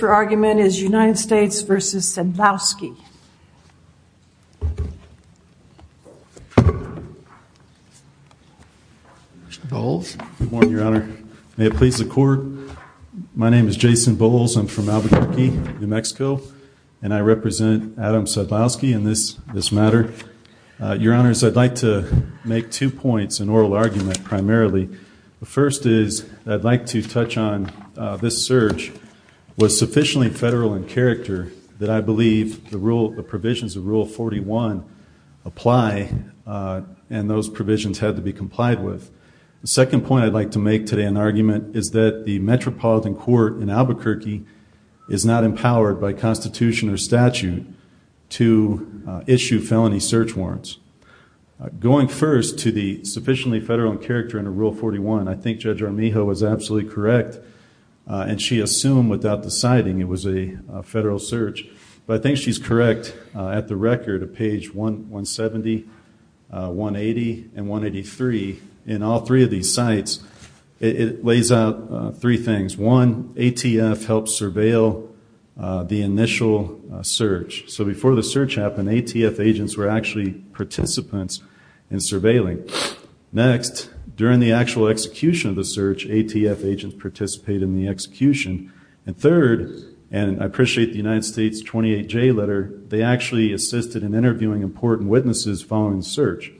Your argument is United States v. Sadlowski. Good morning, Your Honor. May it please the Court? My name is Jason Bowles. I'm from Albuquerque, New Mexico, and I represent Adam Sadlowski in this matter. Your Honors, I'd like to make two points in oral argument primarily. The first is I'd like to touch on this search was sufficiently federal in character that I believe the provisions of Rule 41 apply, and those provisions had to be complied with. The second point I'd like to make today in argument is that the metropolitan court in Albuquerque is not empowered by Constitution or statute to issue felony search warrants. Going first to the sufficiently federal in character, I assume without deciding it was a federal search, but I think she's correct. At the record of page 170, 180, and 183, in all three of these sites, it lays out three things. One, ATF helped surveil the initial search. So before the search happened, ATF agents were actually participants in surveilling. Next, during the actual execution of the search, ATF agents participated in the execution. And third, and I appreciate the United States 28J letter, they actually assisted in interviewing important witnesses following the search.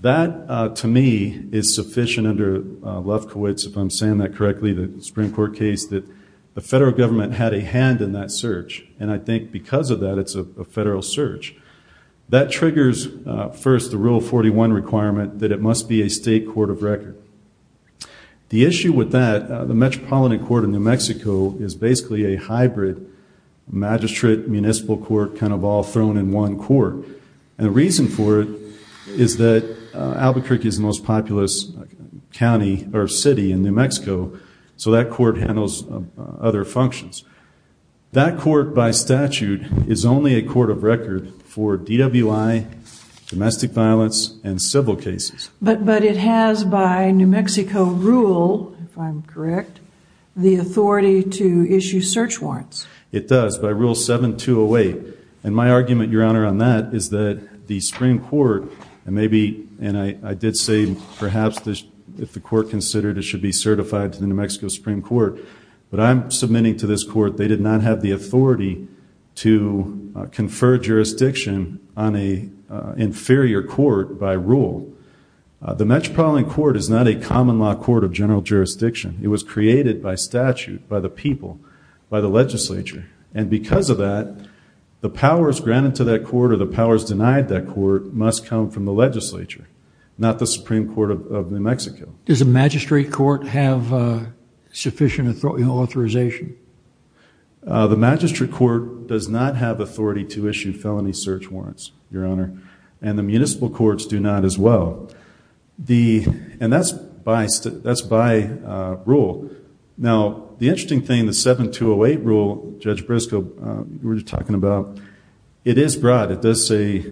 That to me is sufficient under Lefkowitz, if I'm saying that correctly, the Supreme Court case, that the federal government had a hand in that search, and I think because of that it's a federal search. That triggers first the Rule 41 requirement that it must be a state court of record. The issue with that, the metropolitan court in New Mexico is basically a hybrid magistrate municipal court kind of all thrown in one court. And the reason for it is that Albuquerque is the most populous county or city in New Mexico, so that court handles other functions. That court by statute is only a court of record for DWI, domestic violence, and civil cases. But it has by New Mexico rule, if I'm correct, the authority to issue search warrants. It does, by Rule 7208. And my argument, Your Honor, on that is that the Supreme Court, and maybe, and I did say perhaps if the court considered it should be certified to the New Mexico Supreme Court, but I'm submitting to this court, they did not have the authority to confer jurisdiction on an inferior court by rule. The metropolitan court is not a common law court of general jurisdiction. It was created by statute, by the people, by the legislature. And because of that, the powers granted to that court or the powers denied that court must come from the legislature, not the Supreme Court of New Mexico. Does the magistrate court have sufficient authorization? The magistrate court does not have authority to issue felony search warrants, Your Honor, and the municipal courts do not as well. And that's by rule. Now, the interesting thing, the 7208 rule, Judge Briscoe, you were talking about, it is broad. It does say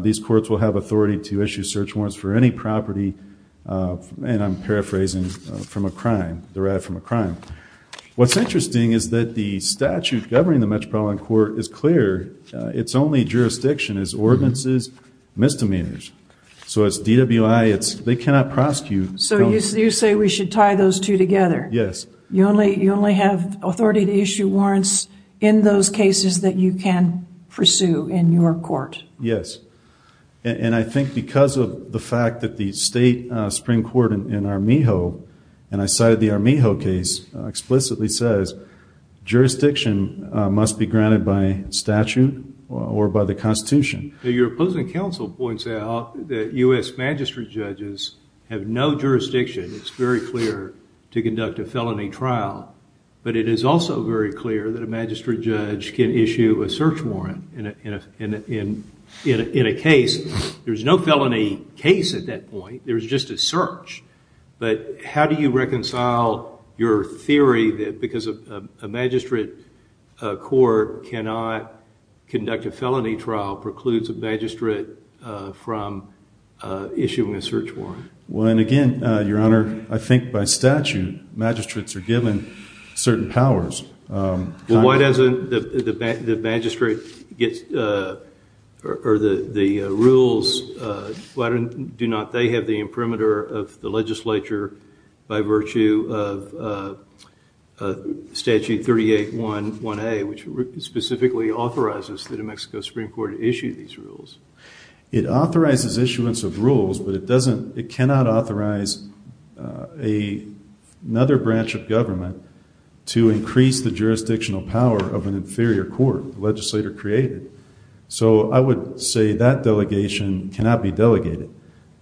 these courts will have authority to issue search warrants for any property, and I'm paraphrasing, from a crime, derived from a crime. What's interesting is that the statute governing the metropolitan court is clear. It's only jurisdiction is ordinances, misdemeanors. So it's DWI, it's, they cannot prosecute. So you say we should tie those two together? Yes. You only have authority to issue warrants in those cases that you can pursue in your court? Yes. And I think because of the fact that the state Supreme Court in Armijo, and I cited the Armijo case, explicitly says jurisdiction must be granted by statute or by the Constitution. Your opposing counsel points out that U.S. magistrate judges have no jurisdiction. It's very clear to conduct a felony trial. But it is also very clear that a magistrate judge can issue a search warrant in a case. There's no felony case at that point. There's just a search. But how do you reconcile your theory that because a magistrate court cannot conduct a felony trial precludes a magistrate from issuing a search warrant? Well, and again, Your Honor, I think by statute, magistrates are given certain powers. Well, why doesn't the magistrate get, or the rules, why do not they have the imprimatur of the legislature by virtue of Statute 38.1.1A, which specifically authorizes the New Mexico Supreme Court to issue these rules? It authorizes issuance of rules, but it doesn't, it cannot authorize another branch of government to increase the jurisdictional power of an inferior court, the legislator created. So I would say that delegation cannot be delegated.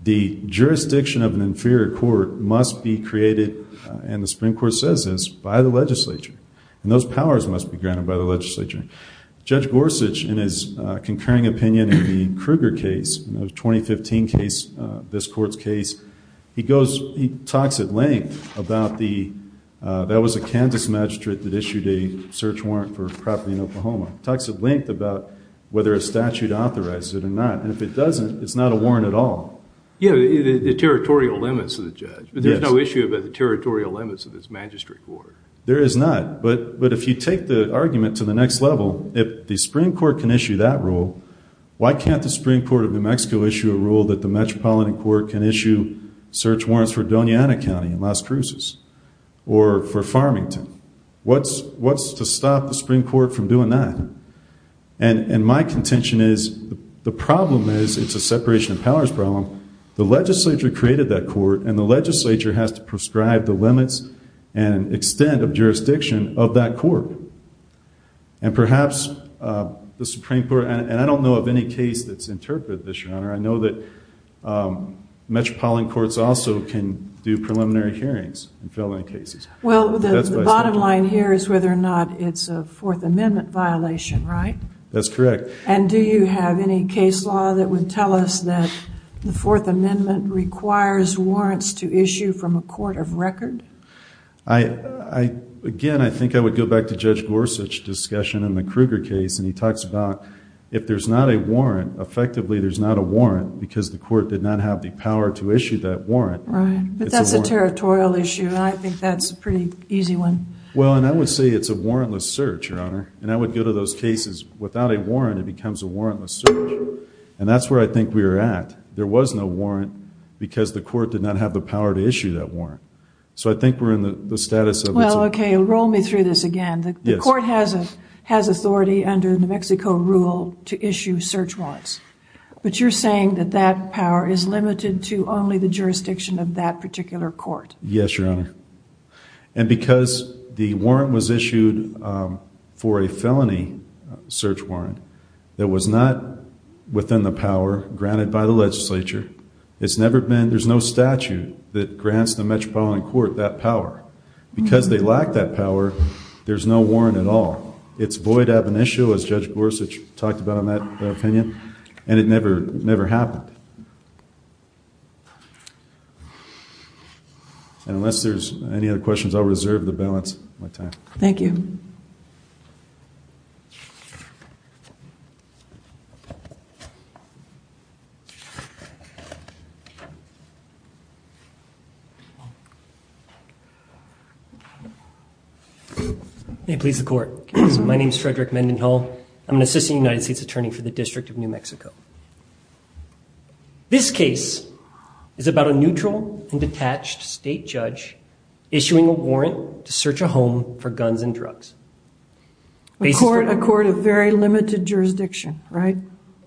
The jurisdiction of an inferior court must be created, and the Supreme Court says this, by the legislature. And those powers must be granted by the legislature. Judge Gorsuch, in his concurring opinion in the Kruger case, the 2015 case, this court's case, he goes, he talks at length about the, that was a Kansas magistrate that issued a search warrant for property in Oklahoma. He talks at length about whether a statute authorizes it or not, and if it doesn't, it's not a warrant at all. Yeah, the territorial limits of the judge, but there's no issue about the territorial limits of this magistrate court. There is not, but if you take the argument to the next level, if the Supreme Court can in Mexico issue a rule that the Metropolitan Court can issue search warrants for Dona Ana County in Las Cruces, or for Farmington, what's to stop the Supreme Court from doing that? And my contention is, the problem is, it's a separation of powers problem, the legislature created that court, and the legislature has to prescribe the limits and extent of jurisdiction of that court. And perhaps the Supreme Court, and I don't know of any case that's interpreted this, Your Honor, I know that Metropolitan Courts also can do preliminary hearings in felony cases. Well, the bottom line here is whether or not it's a Fourth Amendment violation, right? That's correct. And do you have any case law that would tell us that the Fourth Amendment requires warrants to issue from a court of record? I, again, I think I would go back to Judge Gorsuch's discussion in the Kruger case, and he talks about, if there's not a warrant, effectively there's not a warrant, because the court did not have the power to issue that warrant. Right, but that's a territorial issue, and I think that's a pretty easy one. Well, and I would say it's a warrantless search, Your Honor, and I would go to those cases, without a warrant it becomes a warrantless search. And that's where I think we're at. There was no warrant, because the court did not have the power to issue that warrant. So I think we're in the status of... Well, okay, roll me through this again. The court has authority under the New Mexico rule to issue search warrants, but you're saying that that power is limited to only the jurisdiction of that particular court. Yes, Your Honor. And because the warrant was issued for a felony search warrant that was not within the power granted by the legislature, it's never been, there's no statute that grants the metropolitan court that power. Because they lack that power, there's no warrant at all. It's void ab initio, as Judge Gorsuch talked about in that opinion, and it never happened. And unless there's any other questions, I'll reserve the balance of my time. Thank you. May it please the court. My name is Frederick Mendenhall. I'm an assistant United States attorney for the District of New Mexico. This case is about a neutral and detached state judge issuing a warrant to search a home for guns and drugs. A court of very limited jurisdiction, right?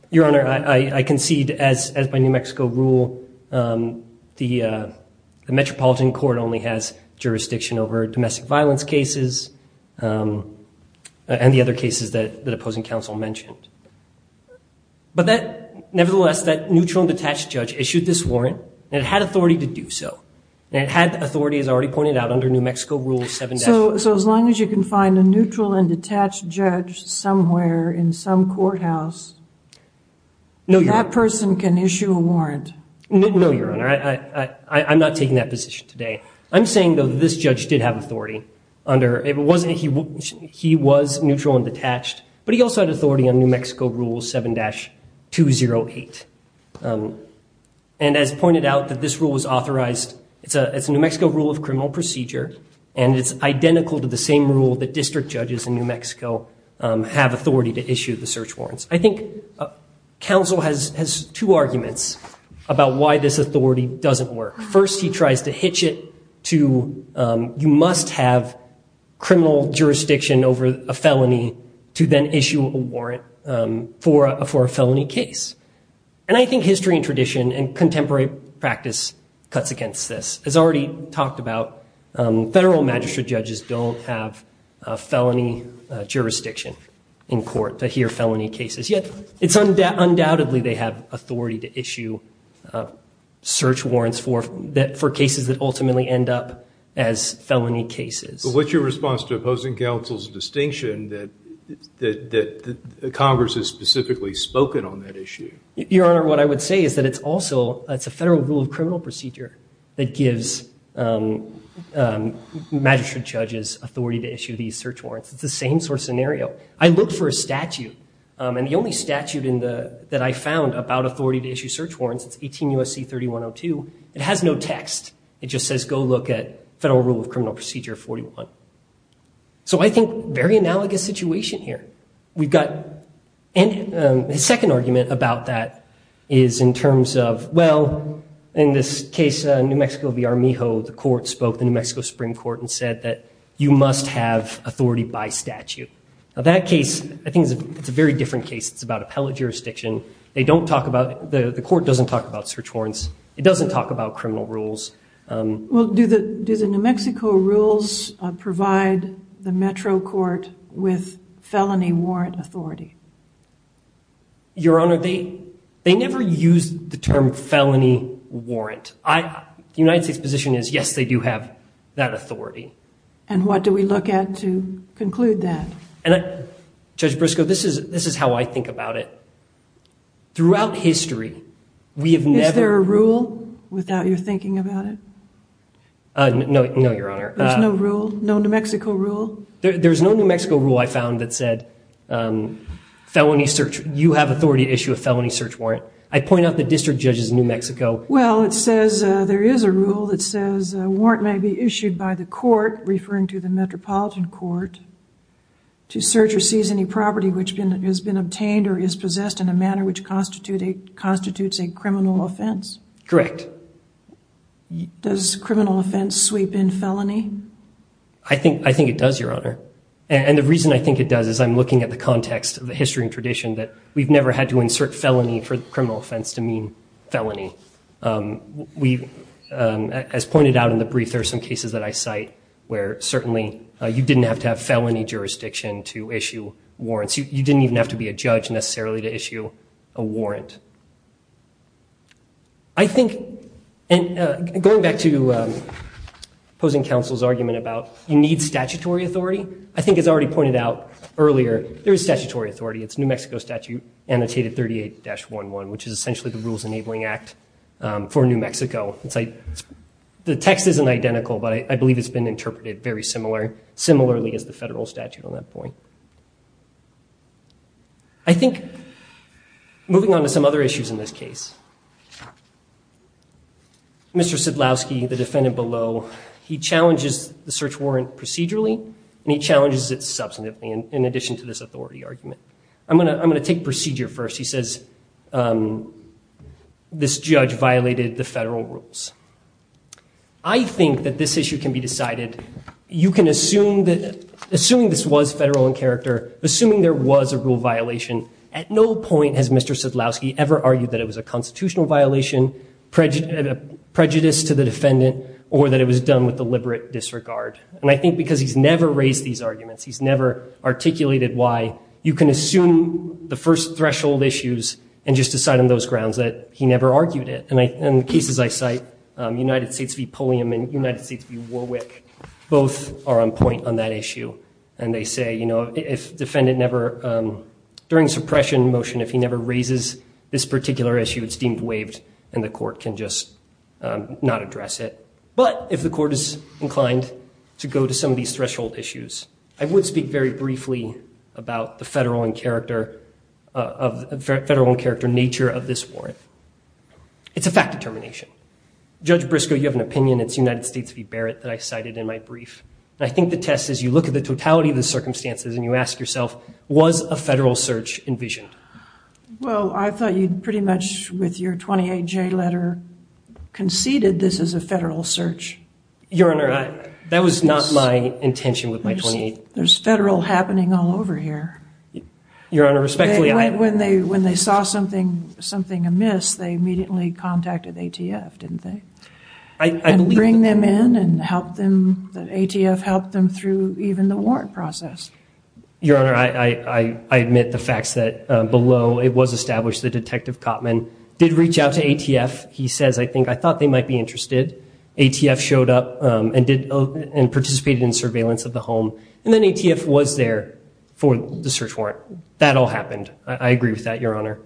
Your Honor, I concede, as by New Mexico rule, the metropolitan court only has jurisdiction over domestic violence cases and the other cases that opposing counsel mentioned. But that, nevertheless, that neutral and detached judge issued this warrant, and it had authority to do so. And it had authority, as I already pointed out, under New Mexico rule 7- So as long as you can find a neutral and detached judge somewhere in some courthouse, that person can issue a warrant. No, Your Honor. I'm not taking that position today. I'm saying, though, that this judge did have authority under, he was neutral and detached, but he also had authority on New It's a New Mexico rule of criminal procedure, and it's identical to the same rule that district judges in New Mexico have authority to issue the search warrants. I think counsel has two arguments about why this authority doesn't work. First, he tries to hitch it to, you must have criminal jurisdiction over a felony to then issue a warrant for a felony case. And I think history and tradition and contemporary practice cuts against this. As I already talked about, federal magistrate judges don't have felony jurisdiction in court to hear felony cases. Yet, it's undoubtedly they have authority to issue search warrants for cases that ultimately end up as felony cases. But what's your response to opposing counsel's distinction that Congress has specifically spoken on that issue? Your Honor, what I would say is that it's also, it's a federal rule of criminal procedure that gives magistrate judges authority to issue these search warrants. It's the same sort of scenario. I looked for a statute, and the only statute that I found about authority to issue search warrants, it's 18 U.S.C. 3102. It has no text. It just says, go look at federal rule of criminal procedure 41. So I think very analogous situation here. We've got a second argument about that is in terms of, well, in this case, New Mexico v. Armijo, the court spoke, the New Mexico Supreme Court, and said that you must have authority by statute. Now, that case, I think it's a very different case. It's about appellate jurisdiction. They don't talk about, the court doesn't talk about search warrants. It doesn't talk about criminal rules. Well, do the New Mexico rules provide the metro court with felony warrant authority? Your Honor, they never used the term felony warrant. The United States position is, yes, they do have that authority. And what do we look at to conclude that? Judge Briscoe, this is how I think about it. Throughout history, we have never- Without your thinking about it? No, Your Honor. There's no rule? No New Mexico rule? There's no New Mexico rule I found that said, felony search, you have authority to issue a felony search warrant. I point out the district judge's New Mexico- Well, it says there is a rule that says a warrant may be issued by the court, referring to the metropolitan court, to search or seize any property which has been obtained or is possessed in a manner which constitutes a criminal offense. Correct. Does criminal offense sweep in felony? I think it does, Your Honor. And the reason I think it does is I'm looking at the context of the history and tradition that we've never had to insert felony for criminal offense to mean felony. As pointed out in the brief, there are some cases that I cite where certainly you didn't have to have felony jurisdiction to issue warrants. You didn't even have to be a judge necessarily to issue a warrant. I think, and going back to opposing counsel's argument about you need statutory authority, I think as already pointed out earlier, there is statutory authority. It's New Mexico statute annotated 38-11, which is essentially the Rules Enabling Act for New Mexico. The text isn't identical, but I believe it's been interpreted very similarly as the federal statute on that point. I think, moving on to some other issues in this case, Mr. Sidlowski, the defendant below, he challenges the search warrant procedurally, and he challenges it substantively in addition to this authority argument. I'm going to take procedure first. He says this judge violated the federal rules. I think that this issue can be decided. You can assume that, assuming this was federal in character, assuming there was a rule violation, at no point has Mr. Sidlowski ever argued that it was a constitutional violation, prejudice to the defendant, or that it was done with deliberate disregard. I think because he's never raised these arguments, he's never articulated why, you can assume the first threshold issues and just decide on those grounds that he never argued it. In the cases I cite, United States v. Pulliam and United States v. Warwick, both are on point on that issue, and they say if defendant never, during suppression motion, if he never raises this particular issue, it's deemed waived and the court can just not address it. But if the court is inclined to go to some of these threshold issues, I would speak very briefly about the federal in character nature of this warrant. It's a fact determination. Judge Briscoe, you have an opinion. It's United States v. Barrett that I cited in my brief. And I think the test is you look at the totality of the circumstances and you ask yourself, was a federal search envisioned? Well, I thought you'd pretty much, with your 28J letter, conceded this is a federal search. Your Honor, that was not my intention with my 28. There's federal happening all over here. Your Honor, respectfully, I... When they saw something amiss, they immediately contacted ATF, didn't they? And bring them in and help them, that ATF helped them through even the warrant process. Your Honor, I admit the facts that below, it was established that Detective Cotman did reach out to ATF. He says, I think, I thought they might be interested. ATF showed up and participated in surveillance of the home. And then ATF was there for the search warrant. That all happened. I agree with that, Your Honor.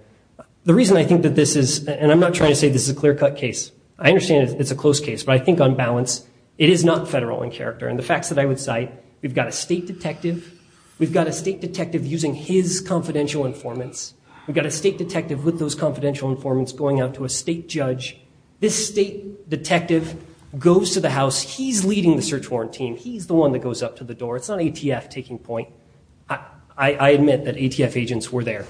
The reason I think that this is, and I'm not trying to say this is a clear-cut case. I understand it's a close case, but I think on balance, it is not federal in character. And the facts that I would cite, we've got a state detective. We've got a state detective using his confidential informants. We've got a state detective with those confidential informants going out to a state judge. This state detective goes to the house. He's leading the search warrant team. He's the one that goes up to the door. It's not ATF taking point. I admit that ATF agents were there.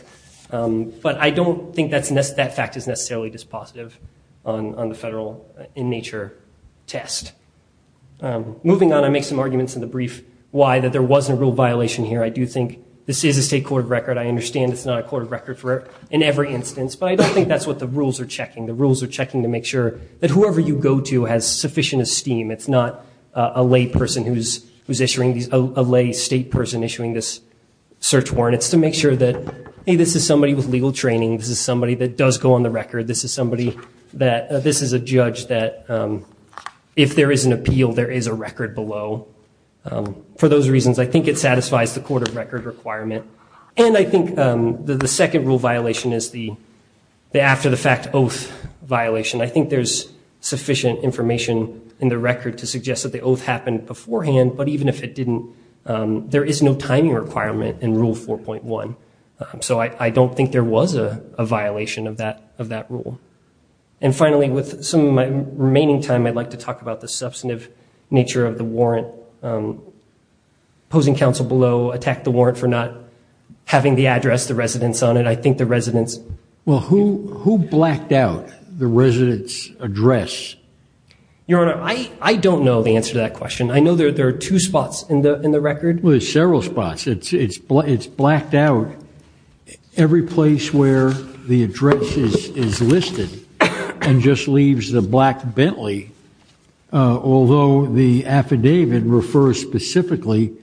But I don't think that fact is necessarily dispositive on the federal in nature test. Moving on, I make some arguments in the brief why that there wasn't a real violation here. I do think this is a state court of record. I understand it's not a court of record in every instance, but I don't think that's what the rules are checking. The rules are checking to make sure that whoever you go to has sufficient esteem. It's not a lay person who's issuing these, a lay state person issuing this search warrant. It's to make sure that, hey, this is somebody with legal training. This is somebody that does go on the record. This is somebody that, this is a judge that if there is an appeal, there is a record below. For those reasons, I think it satisfies the court of record requirement. And I think the second rule violation is the after the fact oath violation. I think there's sufficient information in the there is no timing requirement in rule 4.1. So I don't think there was a violation of that rule. And finally, with some remaining time, I'd like to talk about the substantive nature of the warrant. Opposing counsel below attacked the warrant for not having the address, the residence on it. I think the residence. Well, who blacked out the residence address? Your Honor, I don't know the answer to that question. I know there are two spots in the record. Well, there's several spots. It's blacked out every place where the address is listed and just leaves the black Bentley. Although the affidavit refers specifically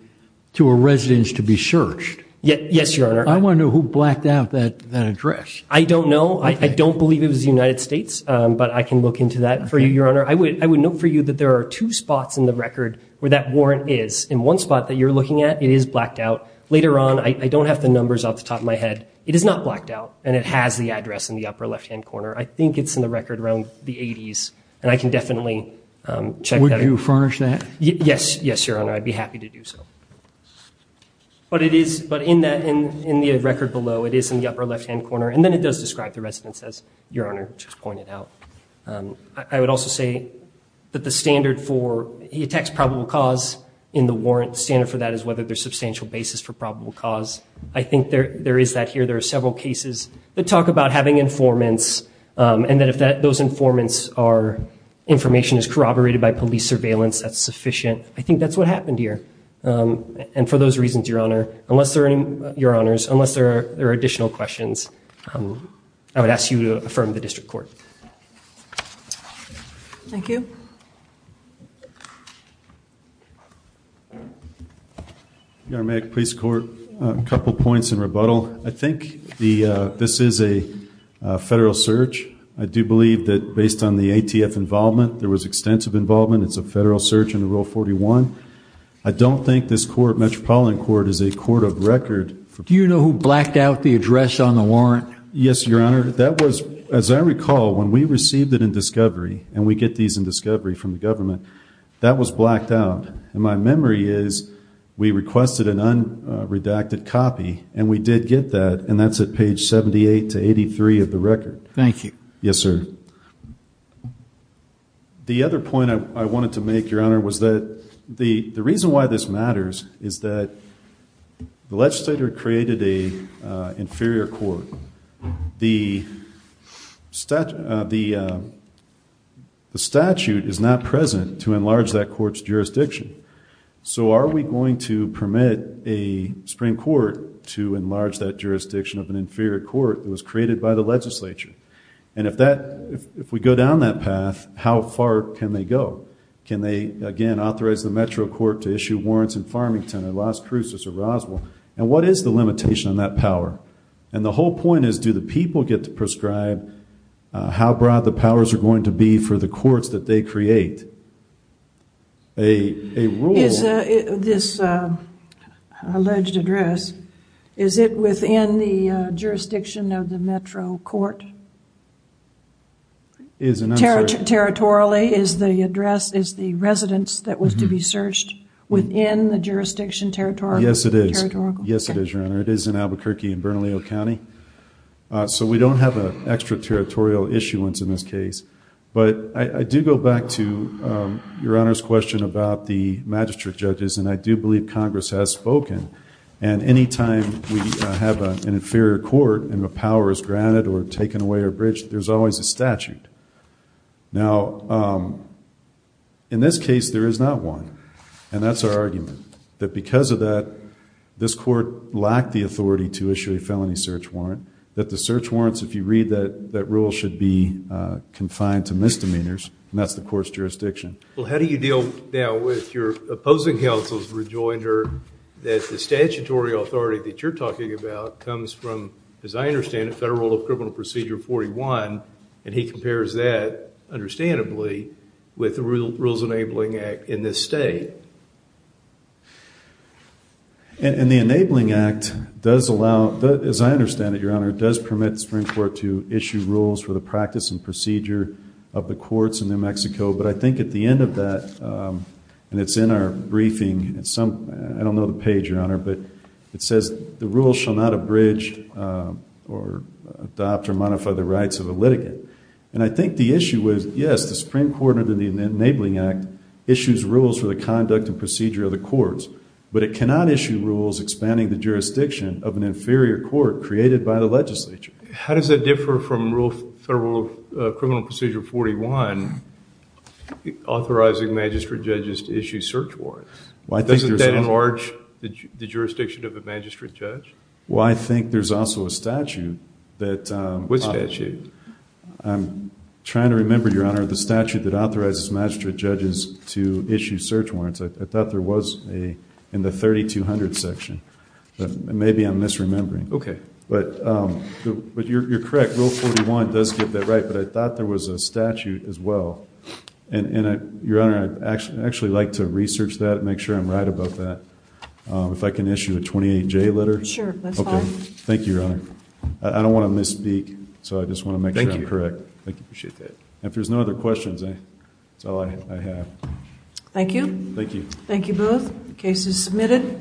to a residence to be searched. Yes, Your Honor. I want to know who blacked out that address. I don't know. I don't believe it was the United States, but I can look into that for you, Your Honor. I would note for you that there are two spots in the record where that warrant is, in one spot that you're looking at, it is blacked out. Later on, I don't have the numbers off the top of my head. It is not blacked out, and it has the address in the upper left-hand corner. I think it's in the record around the 80s, and I can definitely check that. Would you furnish that? Yes. Yes, Your Honor. I'd be happy to do so. But in the record below, it is in the upper left-hand corner, and then it does describe the residence, as Your Honor just pointed out. I would also say that the standard for he attacks probable cause in the warrant, standard for that is whether there's substantial basis for probable cause. I think there is that here. There are several cases that talk about having informants, and that if those informants are information is corroborated by police surveillance, that's sufficient. I think that's what happened here. And for those reasons, Your Honor, unless there are any, Your Honors, unless there are additional questions, I would ask you to affirm the district court. Thank you. Your Honor, may I please court? A couple points in rebuttal. I think this is a federal search. I do believe that based on the ATF involvement, there was extensive involvement. It's a federal search under Rule 41. I don't think this court, Metropolitan Court, is a court of record. Do you know who blacked out the address on the warrant? Yes, Your Honor. That was, as I recall, when we received it in discovery, and we get these in discovery from the government, that was blacked out. And my memory is we requested an unredacted copy, and we did get that, and that's at page 78 to 83 of the record. Thank you. Yes, sir. The other point I wanted to make, Your Honor, was that the reason why this matters is that the legislator created a inferior court. The statute is not present to enlarge that court's jurisdiction. So are we going to permit a Supreme Court to enlarge that jurisdiction of an inferior court that was created by the legislature? And if we go down that path, how far can they go? Can they, again, authorize the Metro Court to issue warrants in Farmington, or Las Cruces, or Roswell? And what is the limitation on that power? And the whole point is, do the people get to prescribe how broad the powers are going to be for the courts that they create? A rule... Is this alleged address, is it within the jurisdiction of the Metro Court? Is, and I'm sorry... Is it within the jurisdiction, territorial? Yes, it is. Yes, it is, Your Honor. It is in Albuquerque and Bernalillo County. So we don't have an extra territorial issuance in this case. But I do go back to Your Honor's question about the magistrate judges, and I do believe Congress has spoken, and any time we have an inferior court and the power is granted or taken away or abridged, there's always a statute. Now, in this case, there is not one. And that's our argument, that because of that, this court lacked the authority to issue a felony search warrant, that the search warrants, if you read that rule, should be confined to misdemeanors, and that's the court's jurisdiction. Well, how do you deal now with your opposing counsel's rejoinder that the statutory authority that you're talking about comes from, as I understand it, Federal Criminal Procedure 41, and he compares that, understandably, with the Rules Enabling Act in this state? And the Enabling Act does allow, as I understand it, Your Honor, does permit the Supreme Court to issue rules for the practice and procedure of the courts in New Mexico. But I think at the end of that, and it's in our briefing, I don't know the page, Your Honor, but it And I think the issue is, yes, the Supreme Court under the Enabling Act issues rules for the conduct and procedure of the courts, but it cannot issue rules expanding the jurisdiction of an inferior court created by the legislature. How does that differ from Federal Criminal Procedure 41 authorizing magistrate judges to issue search warrants? Doesn't that enlarge the jurisdiction of a magistrate judge? Well, I think there's also a statute that Which statute? I'm trying to remember, Your Honor, the statute that authorizes magistrate judges to issue search warrants. I thought there was in the 3200 section. Maybe I'm misremembering. Okay. But you're correct. Rule 41 does get that right, but I thought there was a statute as well. And Your Honor, I'd actually like to research that and make sure I'm right about that. If I can issue a 28J letter? Sure, that's fine. Okay. Thank you, Your Honor. I don't want to misspeak, so I just want to make sure I'm correct. Thank you. I appreciate that. And if there's no other questions, that's all I have. Thank you. Thank you. Thank you both. The case is submitted.